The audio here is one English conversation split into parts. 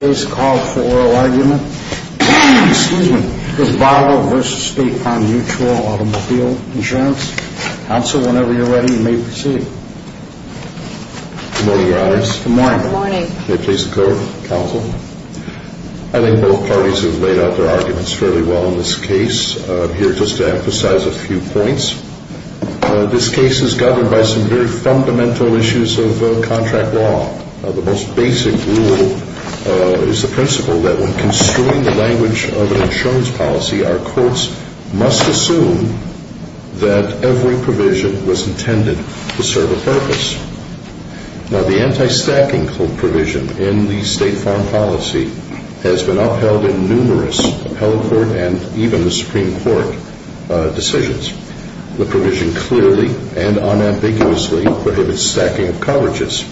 I think both parties have laid out their arguments fairly well in this case. I'm here just to emphasize a few points. This case is governed by some very fundamental issues of contract law. The most basic rule is the principle that when construing the language of an insurance policy our courts must assume that every provision was intended to serve a purpose. Now the anti-stacking provision in the State Farm policy has been upheld in numerous appellate court and even Supreme Court decisions. The provision clearly and unambiguously prohibits stacking of coverages.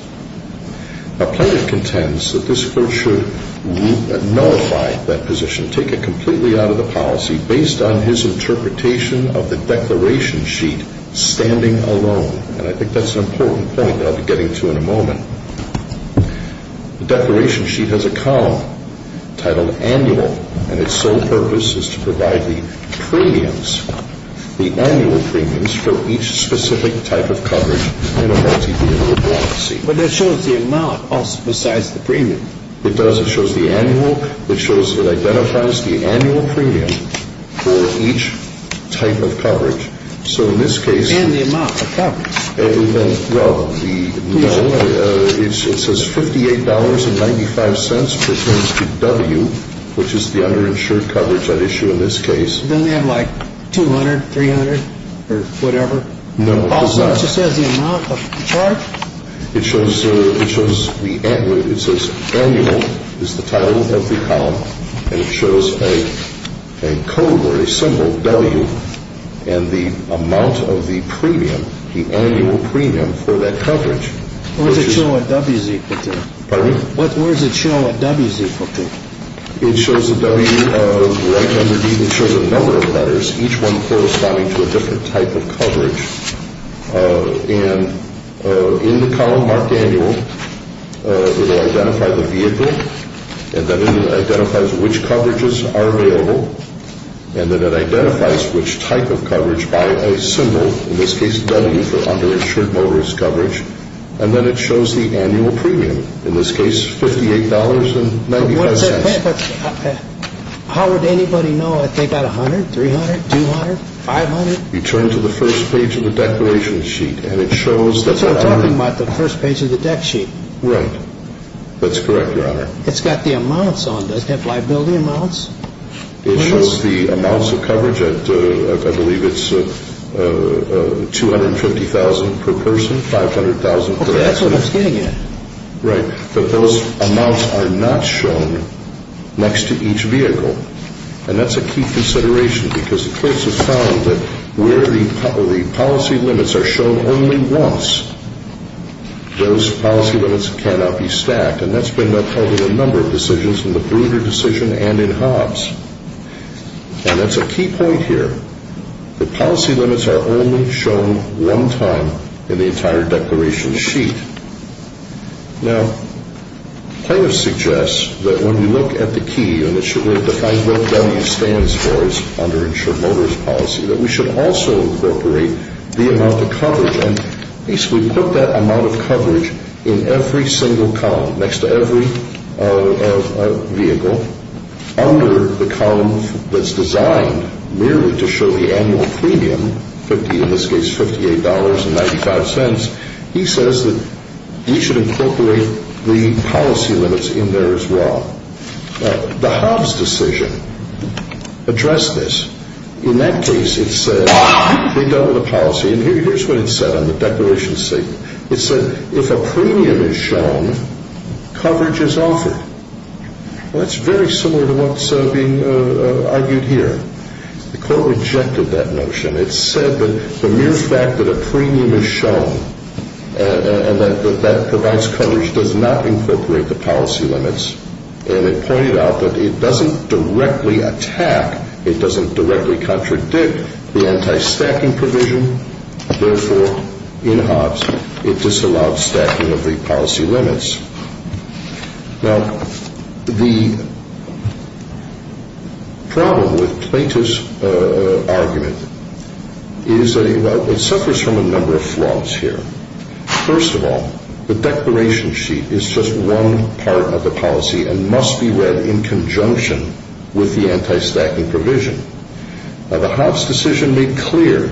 Appellate contends that this court should nullify that position, take it completely out of the policy based on his interpretation of the declaration sheet standing alone. And I think that's an important point that I'll be getting to in a moment. The declaration sheet has a column titled Annual. And its sole purpose is to provide the premiums, the annual premiums, for each specific type of coverage in a multi-vehicle policy. But that shows the amount besides the premium. It does. It shows the annual. It shows it identifies the annual premium for each type of coverage. And the amount of coverage. Well, it says $58.95 pertains to W, which is the underinsured coverage at issue in this case. It doesn't have like 200, 300 or whatever? No, it does not. Also, it just says the amount of charge? It shows the annual. It says annual is the title of the column. And it shows a code or premium for that coverage. Where does it show a W is equal to? It shows a W like under D. It shows a number of letters, each one corresponding to a different type of coverage. And in the column marked Annual, it will identify the vehicle. And then it identifies which coverages are available. And then it identifies which type of coverage by a symbol, in this case W, for underinsured motorist coverage. And then it shows the annual premium, in this case $58.95. How would anybody know if they got $100, $300, $200, $500? You turn to the first page of the declaration sheet, and it shows that the... That's what I'm talking about, the first page of the deck sheet. Right. That's correct, Your Honor. It's got the amounts on it. It has liability amounts. It shows the amounts of coverage. I believe it's $250,000 per person, $500,000 per accident. Okay, that's what I'm getting at. Right. But those amounts are not shown next to each vehicle. And that's a key consideration because the courts have found that where the policy limits are shown only once, those policy limits cannot be stacked. And that's been upheld in a number of decisions, in the Bruder decision and in Hobbs. And that's a key point here. The policy limits are only shown one time in the entire declaration sheet. Now, plaintiff suggests that when we look at the key, and it should really define what W stands for as underinsured motorist policy, that we should also incorporate the amount of coverage. And at least we put that amount of coverage in every single column, next to every vehicle, under the column that's designed merely to show the annual premium, in this case $58.95, he says that we should incorporate the policy limits in there as well. Now, the Hobbs decision addressed this. In that case, it said they doubled the policy. And here's what it said on the declaration sheet. It said, if a premium is shown, coverage is offered. Well, that's very similar to what's being argued here. The court rejected that notion. It said that the mere fact that a premium is shown and that that provides coverage does not incorporate the policy limits. And it pointed out that it doesn't directly attack, it doesn't directly contradict the anti-stacking provision. Therefore, in Hobbs, it disallowed stacking of the policy limits. Now, the problem with Plaintiff's argument is that it suffers from a number of flaws here. First of all, the declaration sheet is just one part of the policy and must be looked at in conjunction with the anti-stacking provision. Now, the Hobbs decision made clear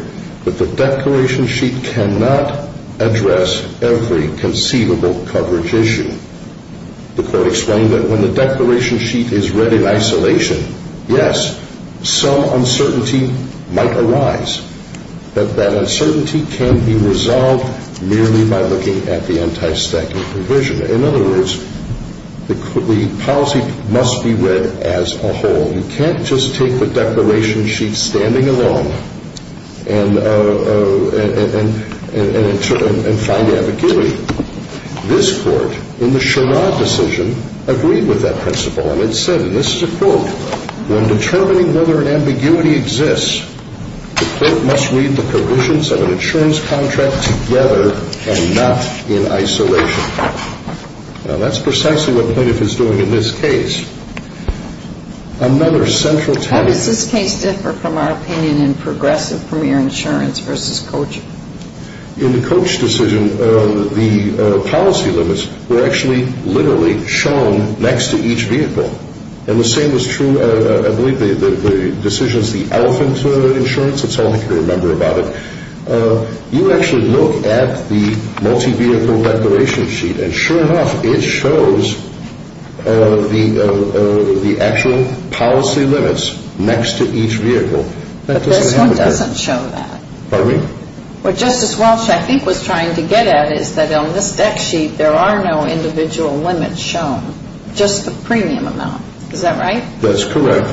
that the declaration sheet cannot address every conceivable coverage issue. The court explained that when the declaration sheet is read in isolation, yes, some uncertainty might arise, that that uncertainty can be resolved merely by looking at the anti-stacking provision. In other words, the policy must be read as a whole. You can't just take the declaration sheet standing alone and find ambiguity. This court, in the Sherrod decision, agreed with that principle. And it said, and this is a quote, when determining whether ambiguity exists, the court must read the provisions of an insurance contract together and not in isolation. Now, that's precisely what Plaintiff is doing in this case. Another central taboo... How does this case differ from our opinion in progressive premier insurance versus coach? In the coach decision, the policy limits were actually literally shown next to each vehicle. And the same is true, I believe, in the decisions of the elephant insurance, it's all I can remember about it. You actually look at the multi-vehicle declaration sheet and sure enough, it shows the actual policy limits next to each vehicle. But this one doesn't show that. Pardon me? What Justice Walsh, I think, was trying to get at is that on this deck sheet, there are no individual limits shown, just the premium amount. Is that right? That's correct.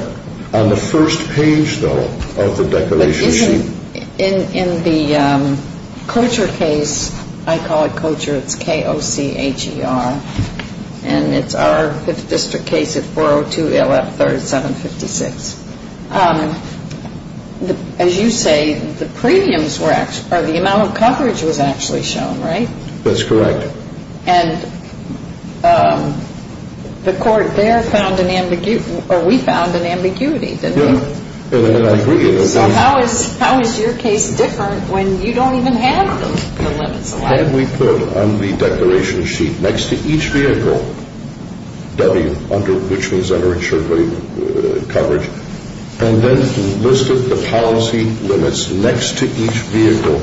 On the first page, though, of the declaration sheet... But isn't, in the coacher case, I call it coacher, it's K-O-C-H-E-R, and it's our 5th District case at 402 LF 3756. As you say, the premiums were actually, or the amount of coverage was actually shown, right? That's correct. And the court there found an ambiguity, or we found an ambiguity, didn't we? Yeah, and I agree. So how is your case different when you don't even have the limits allowed? Had we put on the declaration sheet, next to each vehicle, W, which means under insurance coverage, and then listed the policy limits next to each vehicle,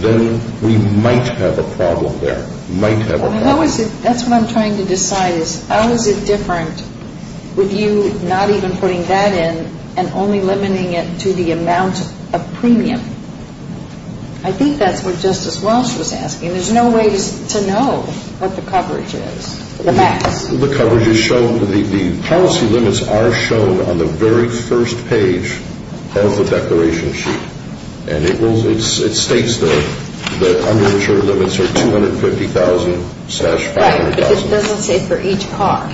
then we might have a problem there, might have a problem. That's what I'm trying to decide, is how is it different with you not even putting that in and only limiting it to the amount of premium? I think that's what Justice Walsh was asking. There's no way to know what the coverage is, the max. The policy limits are shown on the very first page of the declaration sheet, and it states that the under-insured limits are $250,000-$500,000. Right, but it doesn't say for each car.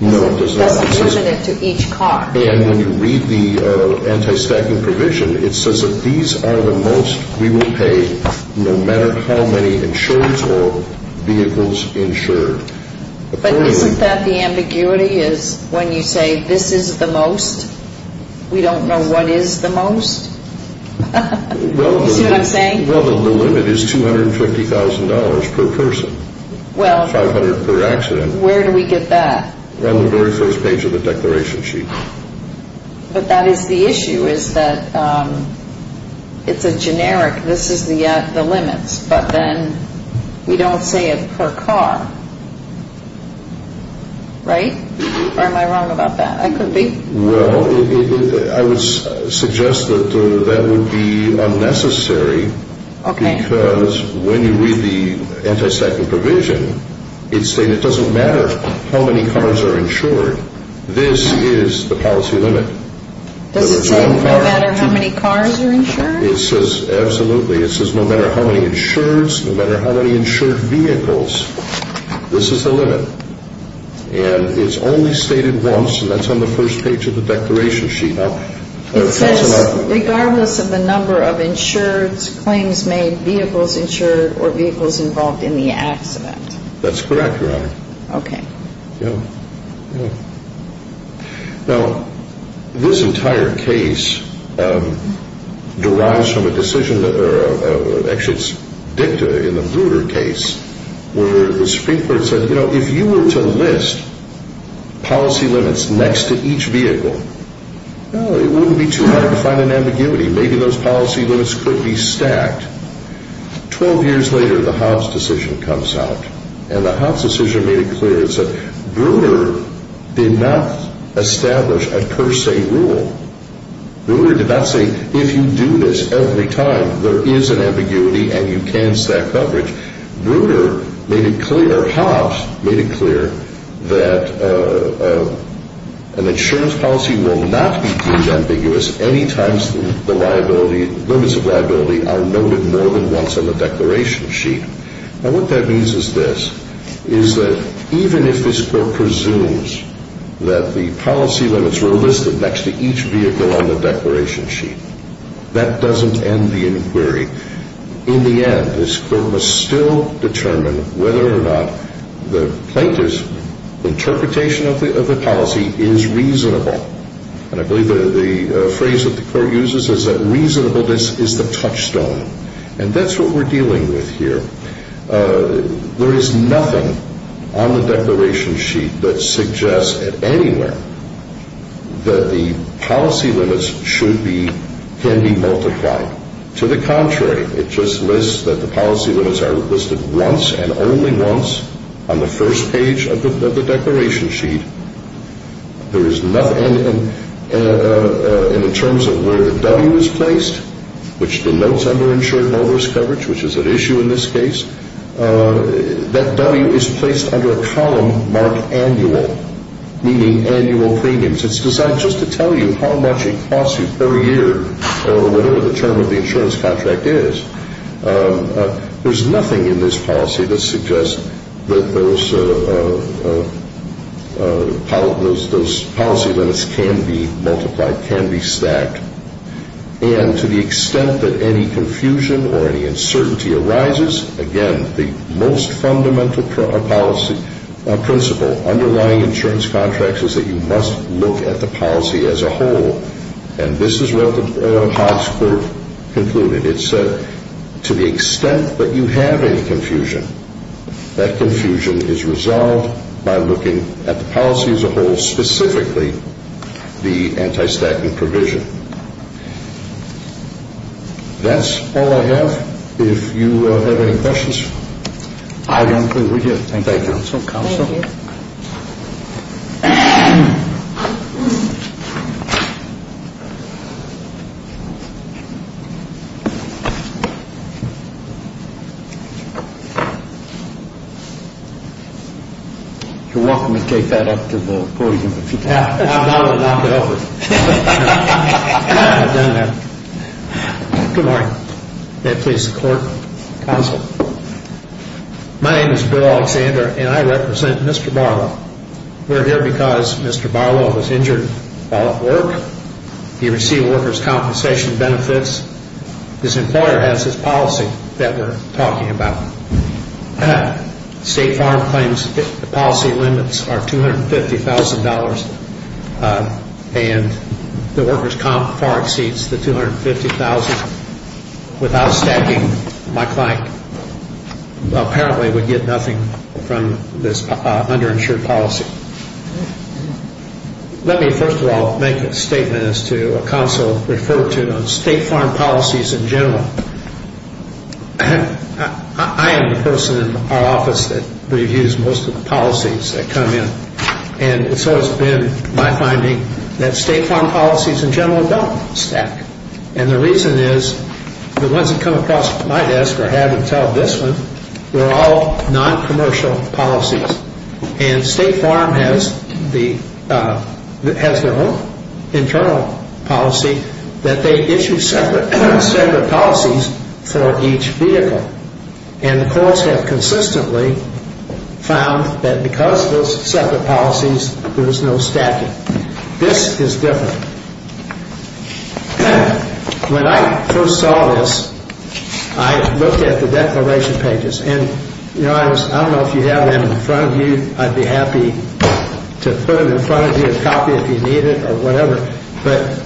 No, it does not. It doesn't limit it to each car. And when you read the anti-stacking provision, it says that these are the most we will pay, no matter how many insurance or vehicles insured. But isn't that the ambiguity, is when you say this is the most, we don't know what is the most? You see what I'm saying? Well, the limit is $250,000 per person, $500,000 per accident. Well, where do we get that? On the very first page of the declaration sheet. But that is the issue, is that it's a generic, this is the limits, but then we don't say it per car, right? Or am I wrong about that? I could be. Well, I would suggest that that would be unnecessary, because when you read the anti-stacking provision, it states it doesn't matter how many cars are insured, this is the policy limit. Does it say no matter how many cars are insured? It says, absolutely, it says no matter how many insureds, no matter how many insured vehicles, this is the limit. And it's only stated once, and that's on the first page of the declaration sheet. It says, regardless of the number of insureds, claims made, vehicles insured, or vehicles involved in the accident. That's correct, Your Honor. Okay. Now, this entire case derives from a decision, actually it's dicta in the policy limits next to each vehicle. Well, it wouldn't be too hard to find an ambiguity, maybe those policy limits could be stacked. Twelve years later, the Hobbs decision comes out, and the Hobbs decision made it clear, it said, Bruner did not establish a per se rule. Bruner did not say, if you do this every time, there is an ambiguity and you can stack coverage. Bruner made it clear, Hobbs made it clear, that an insurance policy will not be deemed ambiguous any time the limits of liability are noted more than once on the declaration sheet. Now, what that means is this, is that even if this court presumes that the policy limits were listed next to each vehicle on the declaration sheet, that doesn't end the inquiry. In the end, this court must still determine whether or not the plaintiff's interpretation of the policy is reasonable. And I believe the phrase that the court uses is that reasonableness is the touchstone. And that's what we're dealing with here. There is nothing on the declaration sheet that suggests at anywhere that the policy limits should be, can be multiplied. To the contrary, it just lists that the policy limits are listed once and only once on the first page of the declaration sheet. There is nothing, and in terms of where the W is placed, which denotes under insured motorist coverage, which is at issue in this case, that W is placed under a column marked annual, meaning annual premiums. It's designed just to tell you how much it costs you per year or whatever the term of the insurance contract is. There's nothing in this policy that suggests that those policy limits can be multiplied, can be stacked. And to the extent that any confusion or any uncertainty arises, again, the most fundamental policy principle underlying insurance contracts is that you must look at the policy as a whole. And this is where Hogg's quote concluded. It said, to the extent that you have any confusion, that confusion is resolved by looking at the policy as a whole, specifically the anti-stacking provision. That's all I have. If you have any questions. I don't believe we do. Thank you. Thank you. Counsel? Counsel? Thank you. You're welcome to take that up to the boardroom if you'd like. That would knock it over. I've done that. Good morning. May it please the clerk? Counsel? My name is Bill Alexander, and I represent Mr. Barlow. We're here because Mr. Barlow was injured while at work. He received workers' compensation benefits. This employer has this policy that we're talking about. State Farm claims the policy limits are $250,000, and the workers' comp far exceeds the $250,000 without stacking. My client apparently would get nothing from this underinsured policy. Let me first of all make a statement as to what counsel referred to on State Farm policies in general. I am the person in our office that reviews most of the policies that come in, and so it's been my finding that State Farm policies in general don't stack. And the reason is the ones that come across my desk or have until this one, they're all noncommercial policies. And State Farm has their own internal policy that they issue separate policies for each vehicle. And the courts have consistently found that because of those separate policies, there's no stacking. This is different. When I first saw this, I looked at the declaration pages. And, you know, I don't know if you have them in front of you. I'd be happy to put them in front of you and copy if you need it or whatever. But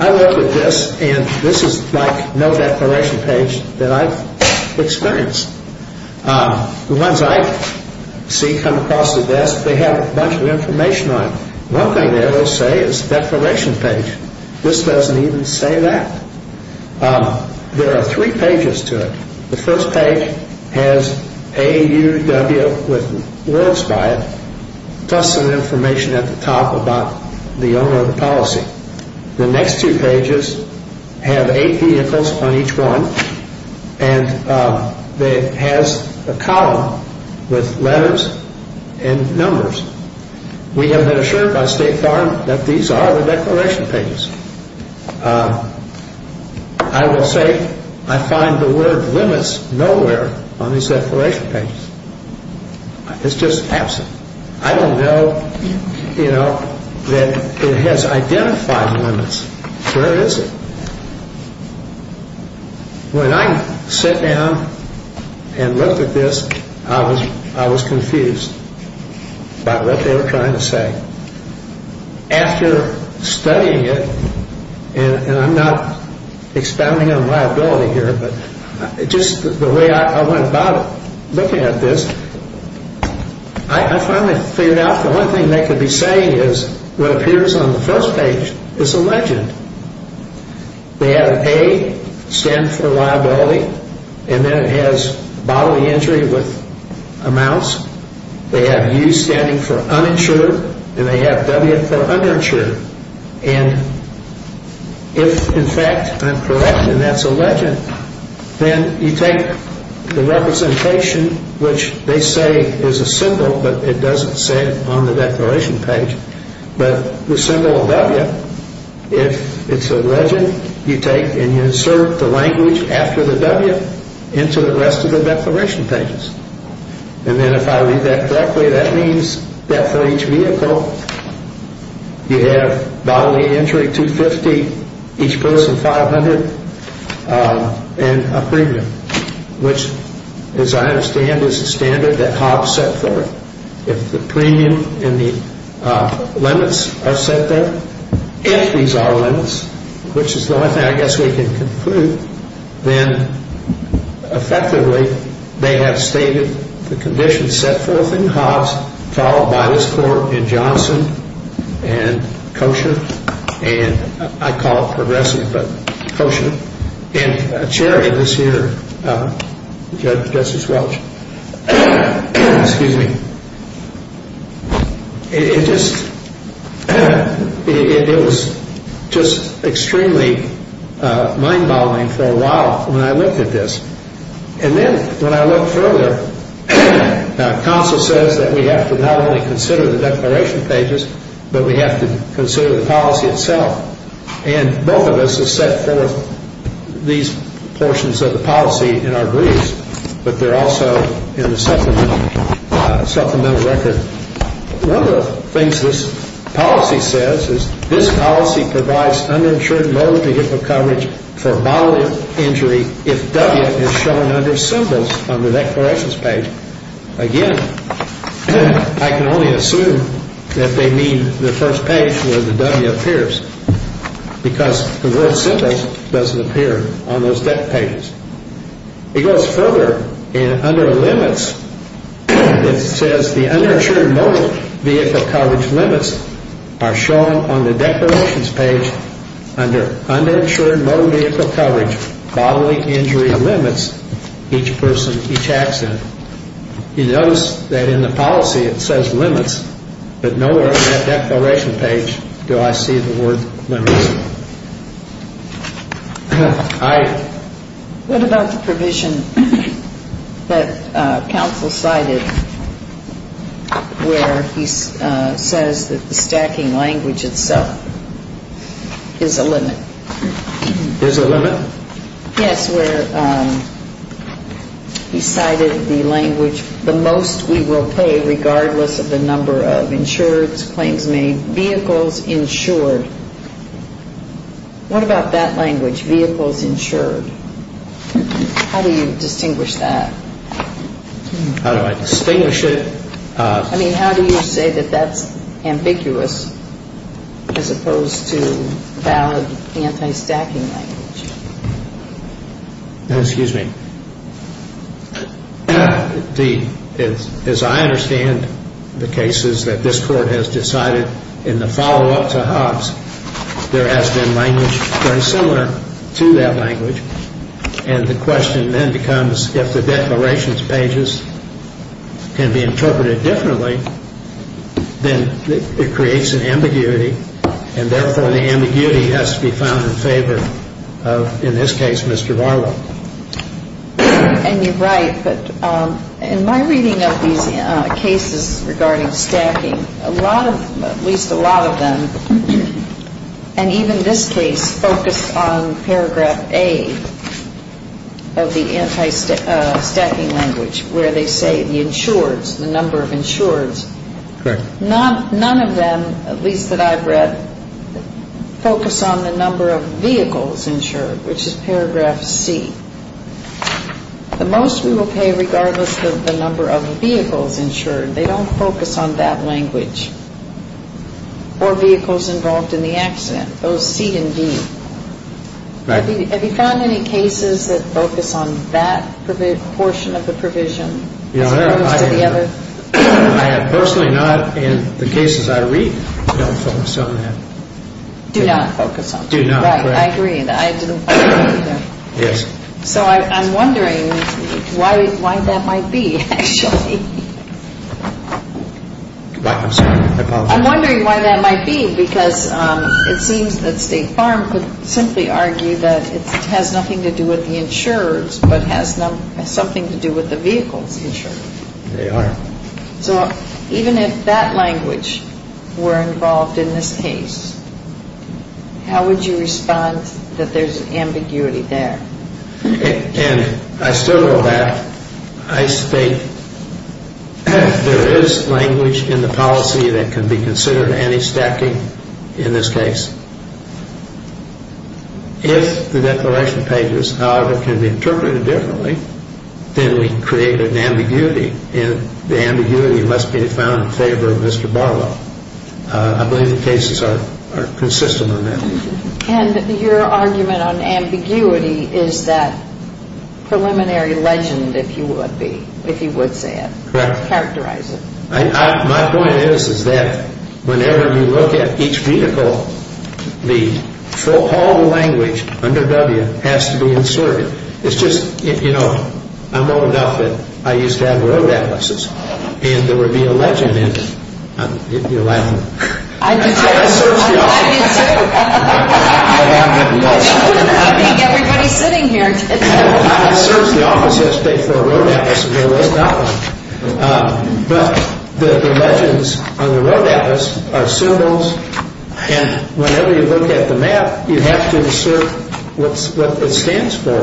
I looked at this, and this is like no declaration page that I've experienced. The ones I see come across the desk, they have a bunch of information on them. One thing they will say is declaration page. This doesn't even say that. There are three pages to it. The first page has A, U, W with words by it, plus some information at the top about the owner of the policy. The next two pages have eight vehicles on each one. And it has a column with letters and numbers. We have been assured by State Farm that these are the declaration pages. I will say I find the word limits nowhere on these declaration pages. It's just absent. I don't know, you know, that it has identified limits. Where is it? When I sat down and looked at this, I was confused by what they were trying to say. After studying it, and I'm not expounding on my ability here, but just the way I went about looking at this, I finally figured out the one thing they could be saying is what appears on the first page is a legend. They have A standing for liability, and then it has bodily injury with amounts. They have U standing for uninsured, and they have W for underinsured. And if, in fact, I'm correct and that's a legend, then you take the representation, which they say is a symbol, but it doesn't say it on the declaration page. But the symbol of W, if it's a legend, you take and you insert the language after the W into the rest of the declaration pages. And then if I read that correctly, that means that for each vehicle, you have bodily injury, 250, each person 500, and a premium, which, as I understand, is a standard that Hobbs set forth. If the premium and the limits are set there, if these are limits, which is the only thing I guess we can conclude, then effectively they have stated the conditions set forth in Hobbs, followed by this court in Johnson and Kosher. And I call it progressive, but Kosher. And a charity this year, Justice Welch, it was just extremely mind-boggling for a while when I looked at this. And then when I looked further, counsel says that we have to not only consider the declaration pages, but we have to consider the policy itself. And both of us have set forth these portions of the policy in our briefs, but they're also in the supplemental record. One of the things this policy says is this policy provides uninsured motor vehicle coverage for bodily injury if W is shown under symbols on the declarations page. Again, I can only assume that they mean the first page where the W appears, because the word symbols doesn't appear on those declarations. It goes further, and under limits, it says the uninsured motor vehicle coverage limits are shown on the declarations page under uninsured motor vehicle coverage bodily injury limits each person, each accident. You notice that in the policy it says limits, but nowhere on that declaration page do I see the word limits. What about the provision that counsel cited where he says that the stacking language itself is a limit? Is a limit? Yes, where he cited the language the most we will pay regardless of the number of insured claims made, vehicles insured. What about that language, vehicles insured? How do you distinguish that? How do I distinguish it? I mean, how do you say that that's ambiguous as opposed to valid anti-stacking language? Excuse me. As I understand the cases that this court has decided in the follow-up to Hobbs, there has been language very similar to that language, and the question then becomes if the declarations pages can be interpreted differently, then it creates an ambiguity, and therefore the ambiguity has to be found in favor of, in this case, Mr. Varla. And you're right, but in my reading of these cases regarding stacking, a lot of, at least a lot of them, and even this case focused on paragraph A of the anti-stacking language where they say the insureds, the number of insureds. Correct. None of them, at least that I've read, focus on the number of vehicles insured, which is paragraph C. The most we will pay regardless of the number of vehicles insured, they don't focus on that language or vehicles involved in the accident, those C and D. Have you found any cases that focus on that portion of the provision as opposed to the other? I have personally not, and the cases I read don't focus on that. Do not focus on that. Do not, correct. Right, I agree. I didn't find any either. Yes. So I'm wondering why that might be, actually. I'm sorry, I apologize. I'm wondering why that might be because it seems that State Farm could simply argue that it has nothing to do with the insurers but has something to do with the vehicles insured. They are. So even if that language were involved in this case, how would you respond that there's ambiguity there? And I still go back. I state there is language in the policy that can be considered anti-stacking in this case. If the declaration pages, however, can be interpreted differently, then we create an ambiguity, and the ambiguity must be found in favor of Mr. Barlow. I believe the cases are consistent on that. And your argument on ambiguity is that preliminary legend, if you would say it. Correct. Characterize it. My point is, is that whenever you look at each vehicle, all the language under W has to be inserted. It's just, you know, I'm old enough that I used to have road atlases, and there would be a legend in them. You're laughing. I'm glad you do. I think everybody's sitting here. I searched the office yesterday for a road atlas and there was not one. But the legends on the road atlas are symbols, and whenever you look at the map, you have to insert what it stands for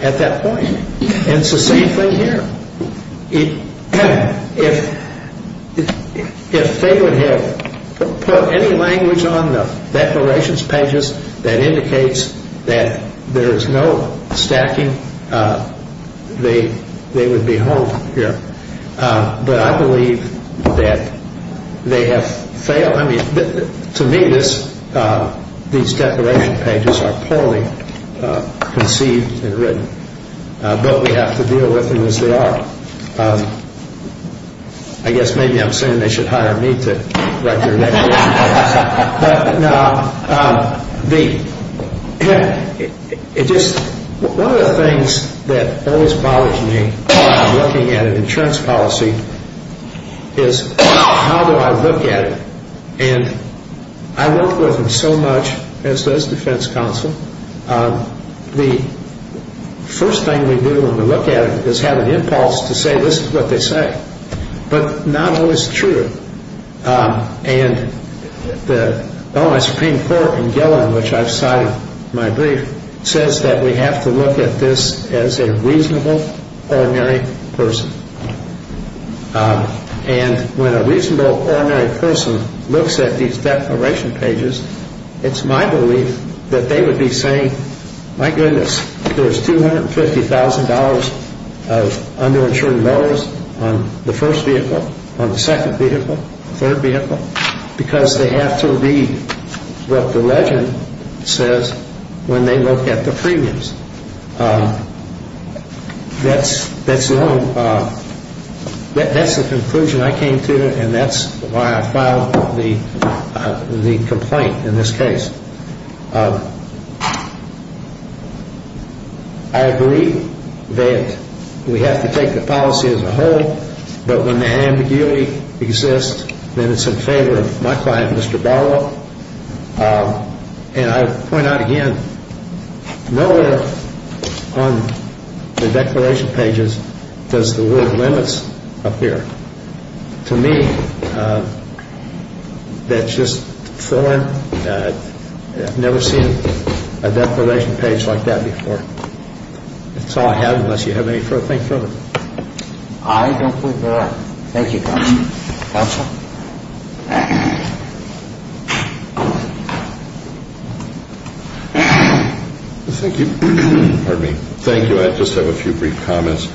at that point. And it's the same thing here. If they would have put any language on the declarations pages that indicates that there is no stacking, they would be home here. But I believe that they have failed. I mean, to me, these declaration pages are poorly conceived and written. But we have to deal with them as they are. I guess maybe I'm saying they should hire me to write their next book. But, no, one of the things that always bothers me when I'm looking at an insurance policy is how do I look at it? And I work with them so much, as does Defense Counsel. The first thing we do when we look at it is have an impulse to say this is what they say, but not always true. And the Illinois Supreme Court in Gillen, which I've cited in my brief, says that we have to look at this as a reasonable, ordinary person. And when a reasonable, ordinary person looks at these declaration pages, it's my belief that they would be saying, my goodness, there's $250,000 of underinsured dollars on the first vehicle, on the second vehicle, third vehicle, because they have to read what the legend says when they look at the premiums. That's the conclusion I came to, and that's why I filed the complaint in this case. I agree that we have to take the policy as a whole, but when the ambiguity exists, then it's in favor of my client, Mr. Barlow. And I point out again, nowhere on the declaration pages does the word limits appear. To me, that's just foreign. I've never seen a declaration page like that before. That's all I have, unless you have anything further. I don't believe there are. Thank you, Counsel. Counsel? Thank you. Pardon me. Thank you. I just have a few brief comments.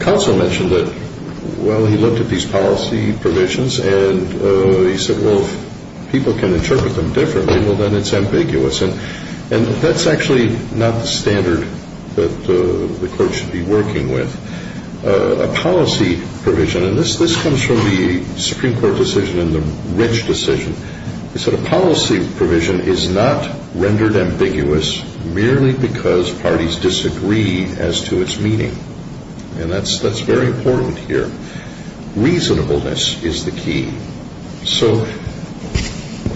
Counsel mentioned that, well, he looked at these policy provisions, and he said, well, if people can interpret them differently, well, then it's ambiguous. And that's actually not the standard that the court should be working with. A policy provision, and this comes from the Supreme Court decision and the Rich decision, he said, a policy provision is not rendered ambiguous merely because parties disagree as to its meaning. And that's very important here. Reasonableness is the key. So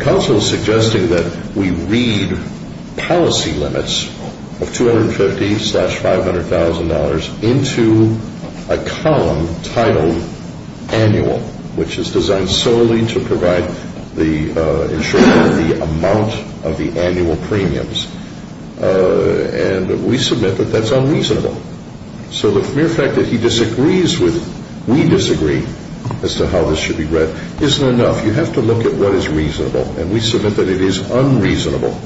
counsel is suggesting that we read policy limits of $250,000-$500,000 into a column titled annual, which is designed solely to ensure the amount of the annual premiums. And we submit that that's unreasonable. So the mere fact that he disagrees with we disagree as to how this should be read isn't enough. You have to look at what is reasonable. And we submit that it is unreasonable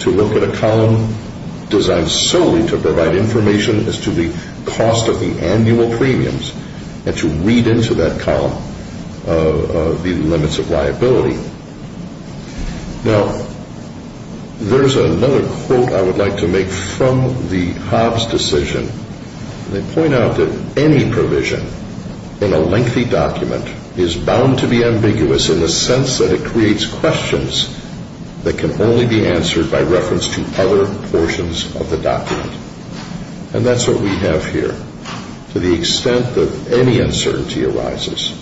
to look at a column designed solely to provide information as to the cost of the annual premiums and to read into that column the limits of liability. Now, there's another quote I would like to make from the Hobbs decision. They point out that any provision in a lengthy document is bound to be ambiguous in the sense that it creates questions that can only be answered by reference to other portions of the document. And that's what we have here. To the extent that any uncertainty arises,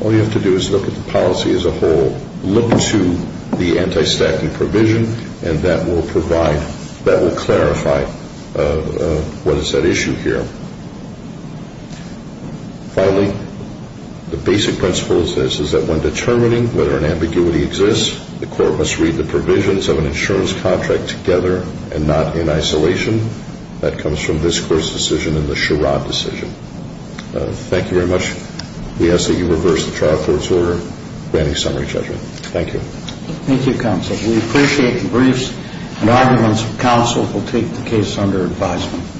all you have to do is look at the policy as a whole, look to the anti-staffing provision, and that will provide, that will clarify what is at issue here. Finally, the basic principle is this, is that when determining whether an ambiguity exists, the court must read the provisions of an insurance contract together and not in isolation. That comes from this Court's decision and the Sherrod decision. Thank you very much. We ask that you reverse the trial court's order granting summary judgment. Thank you. Thank you, Counsel. We appreciate the briefs and arguments. Counsel will take the case under advisement.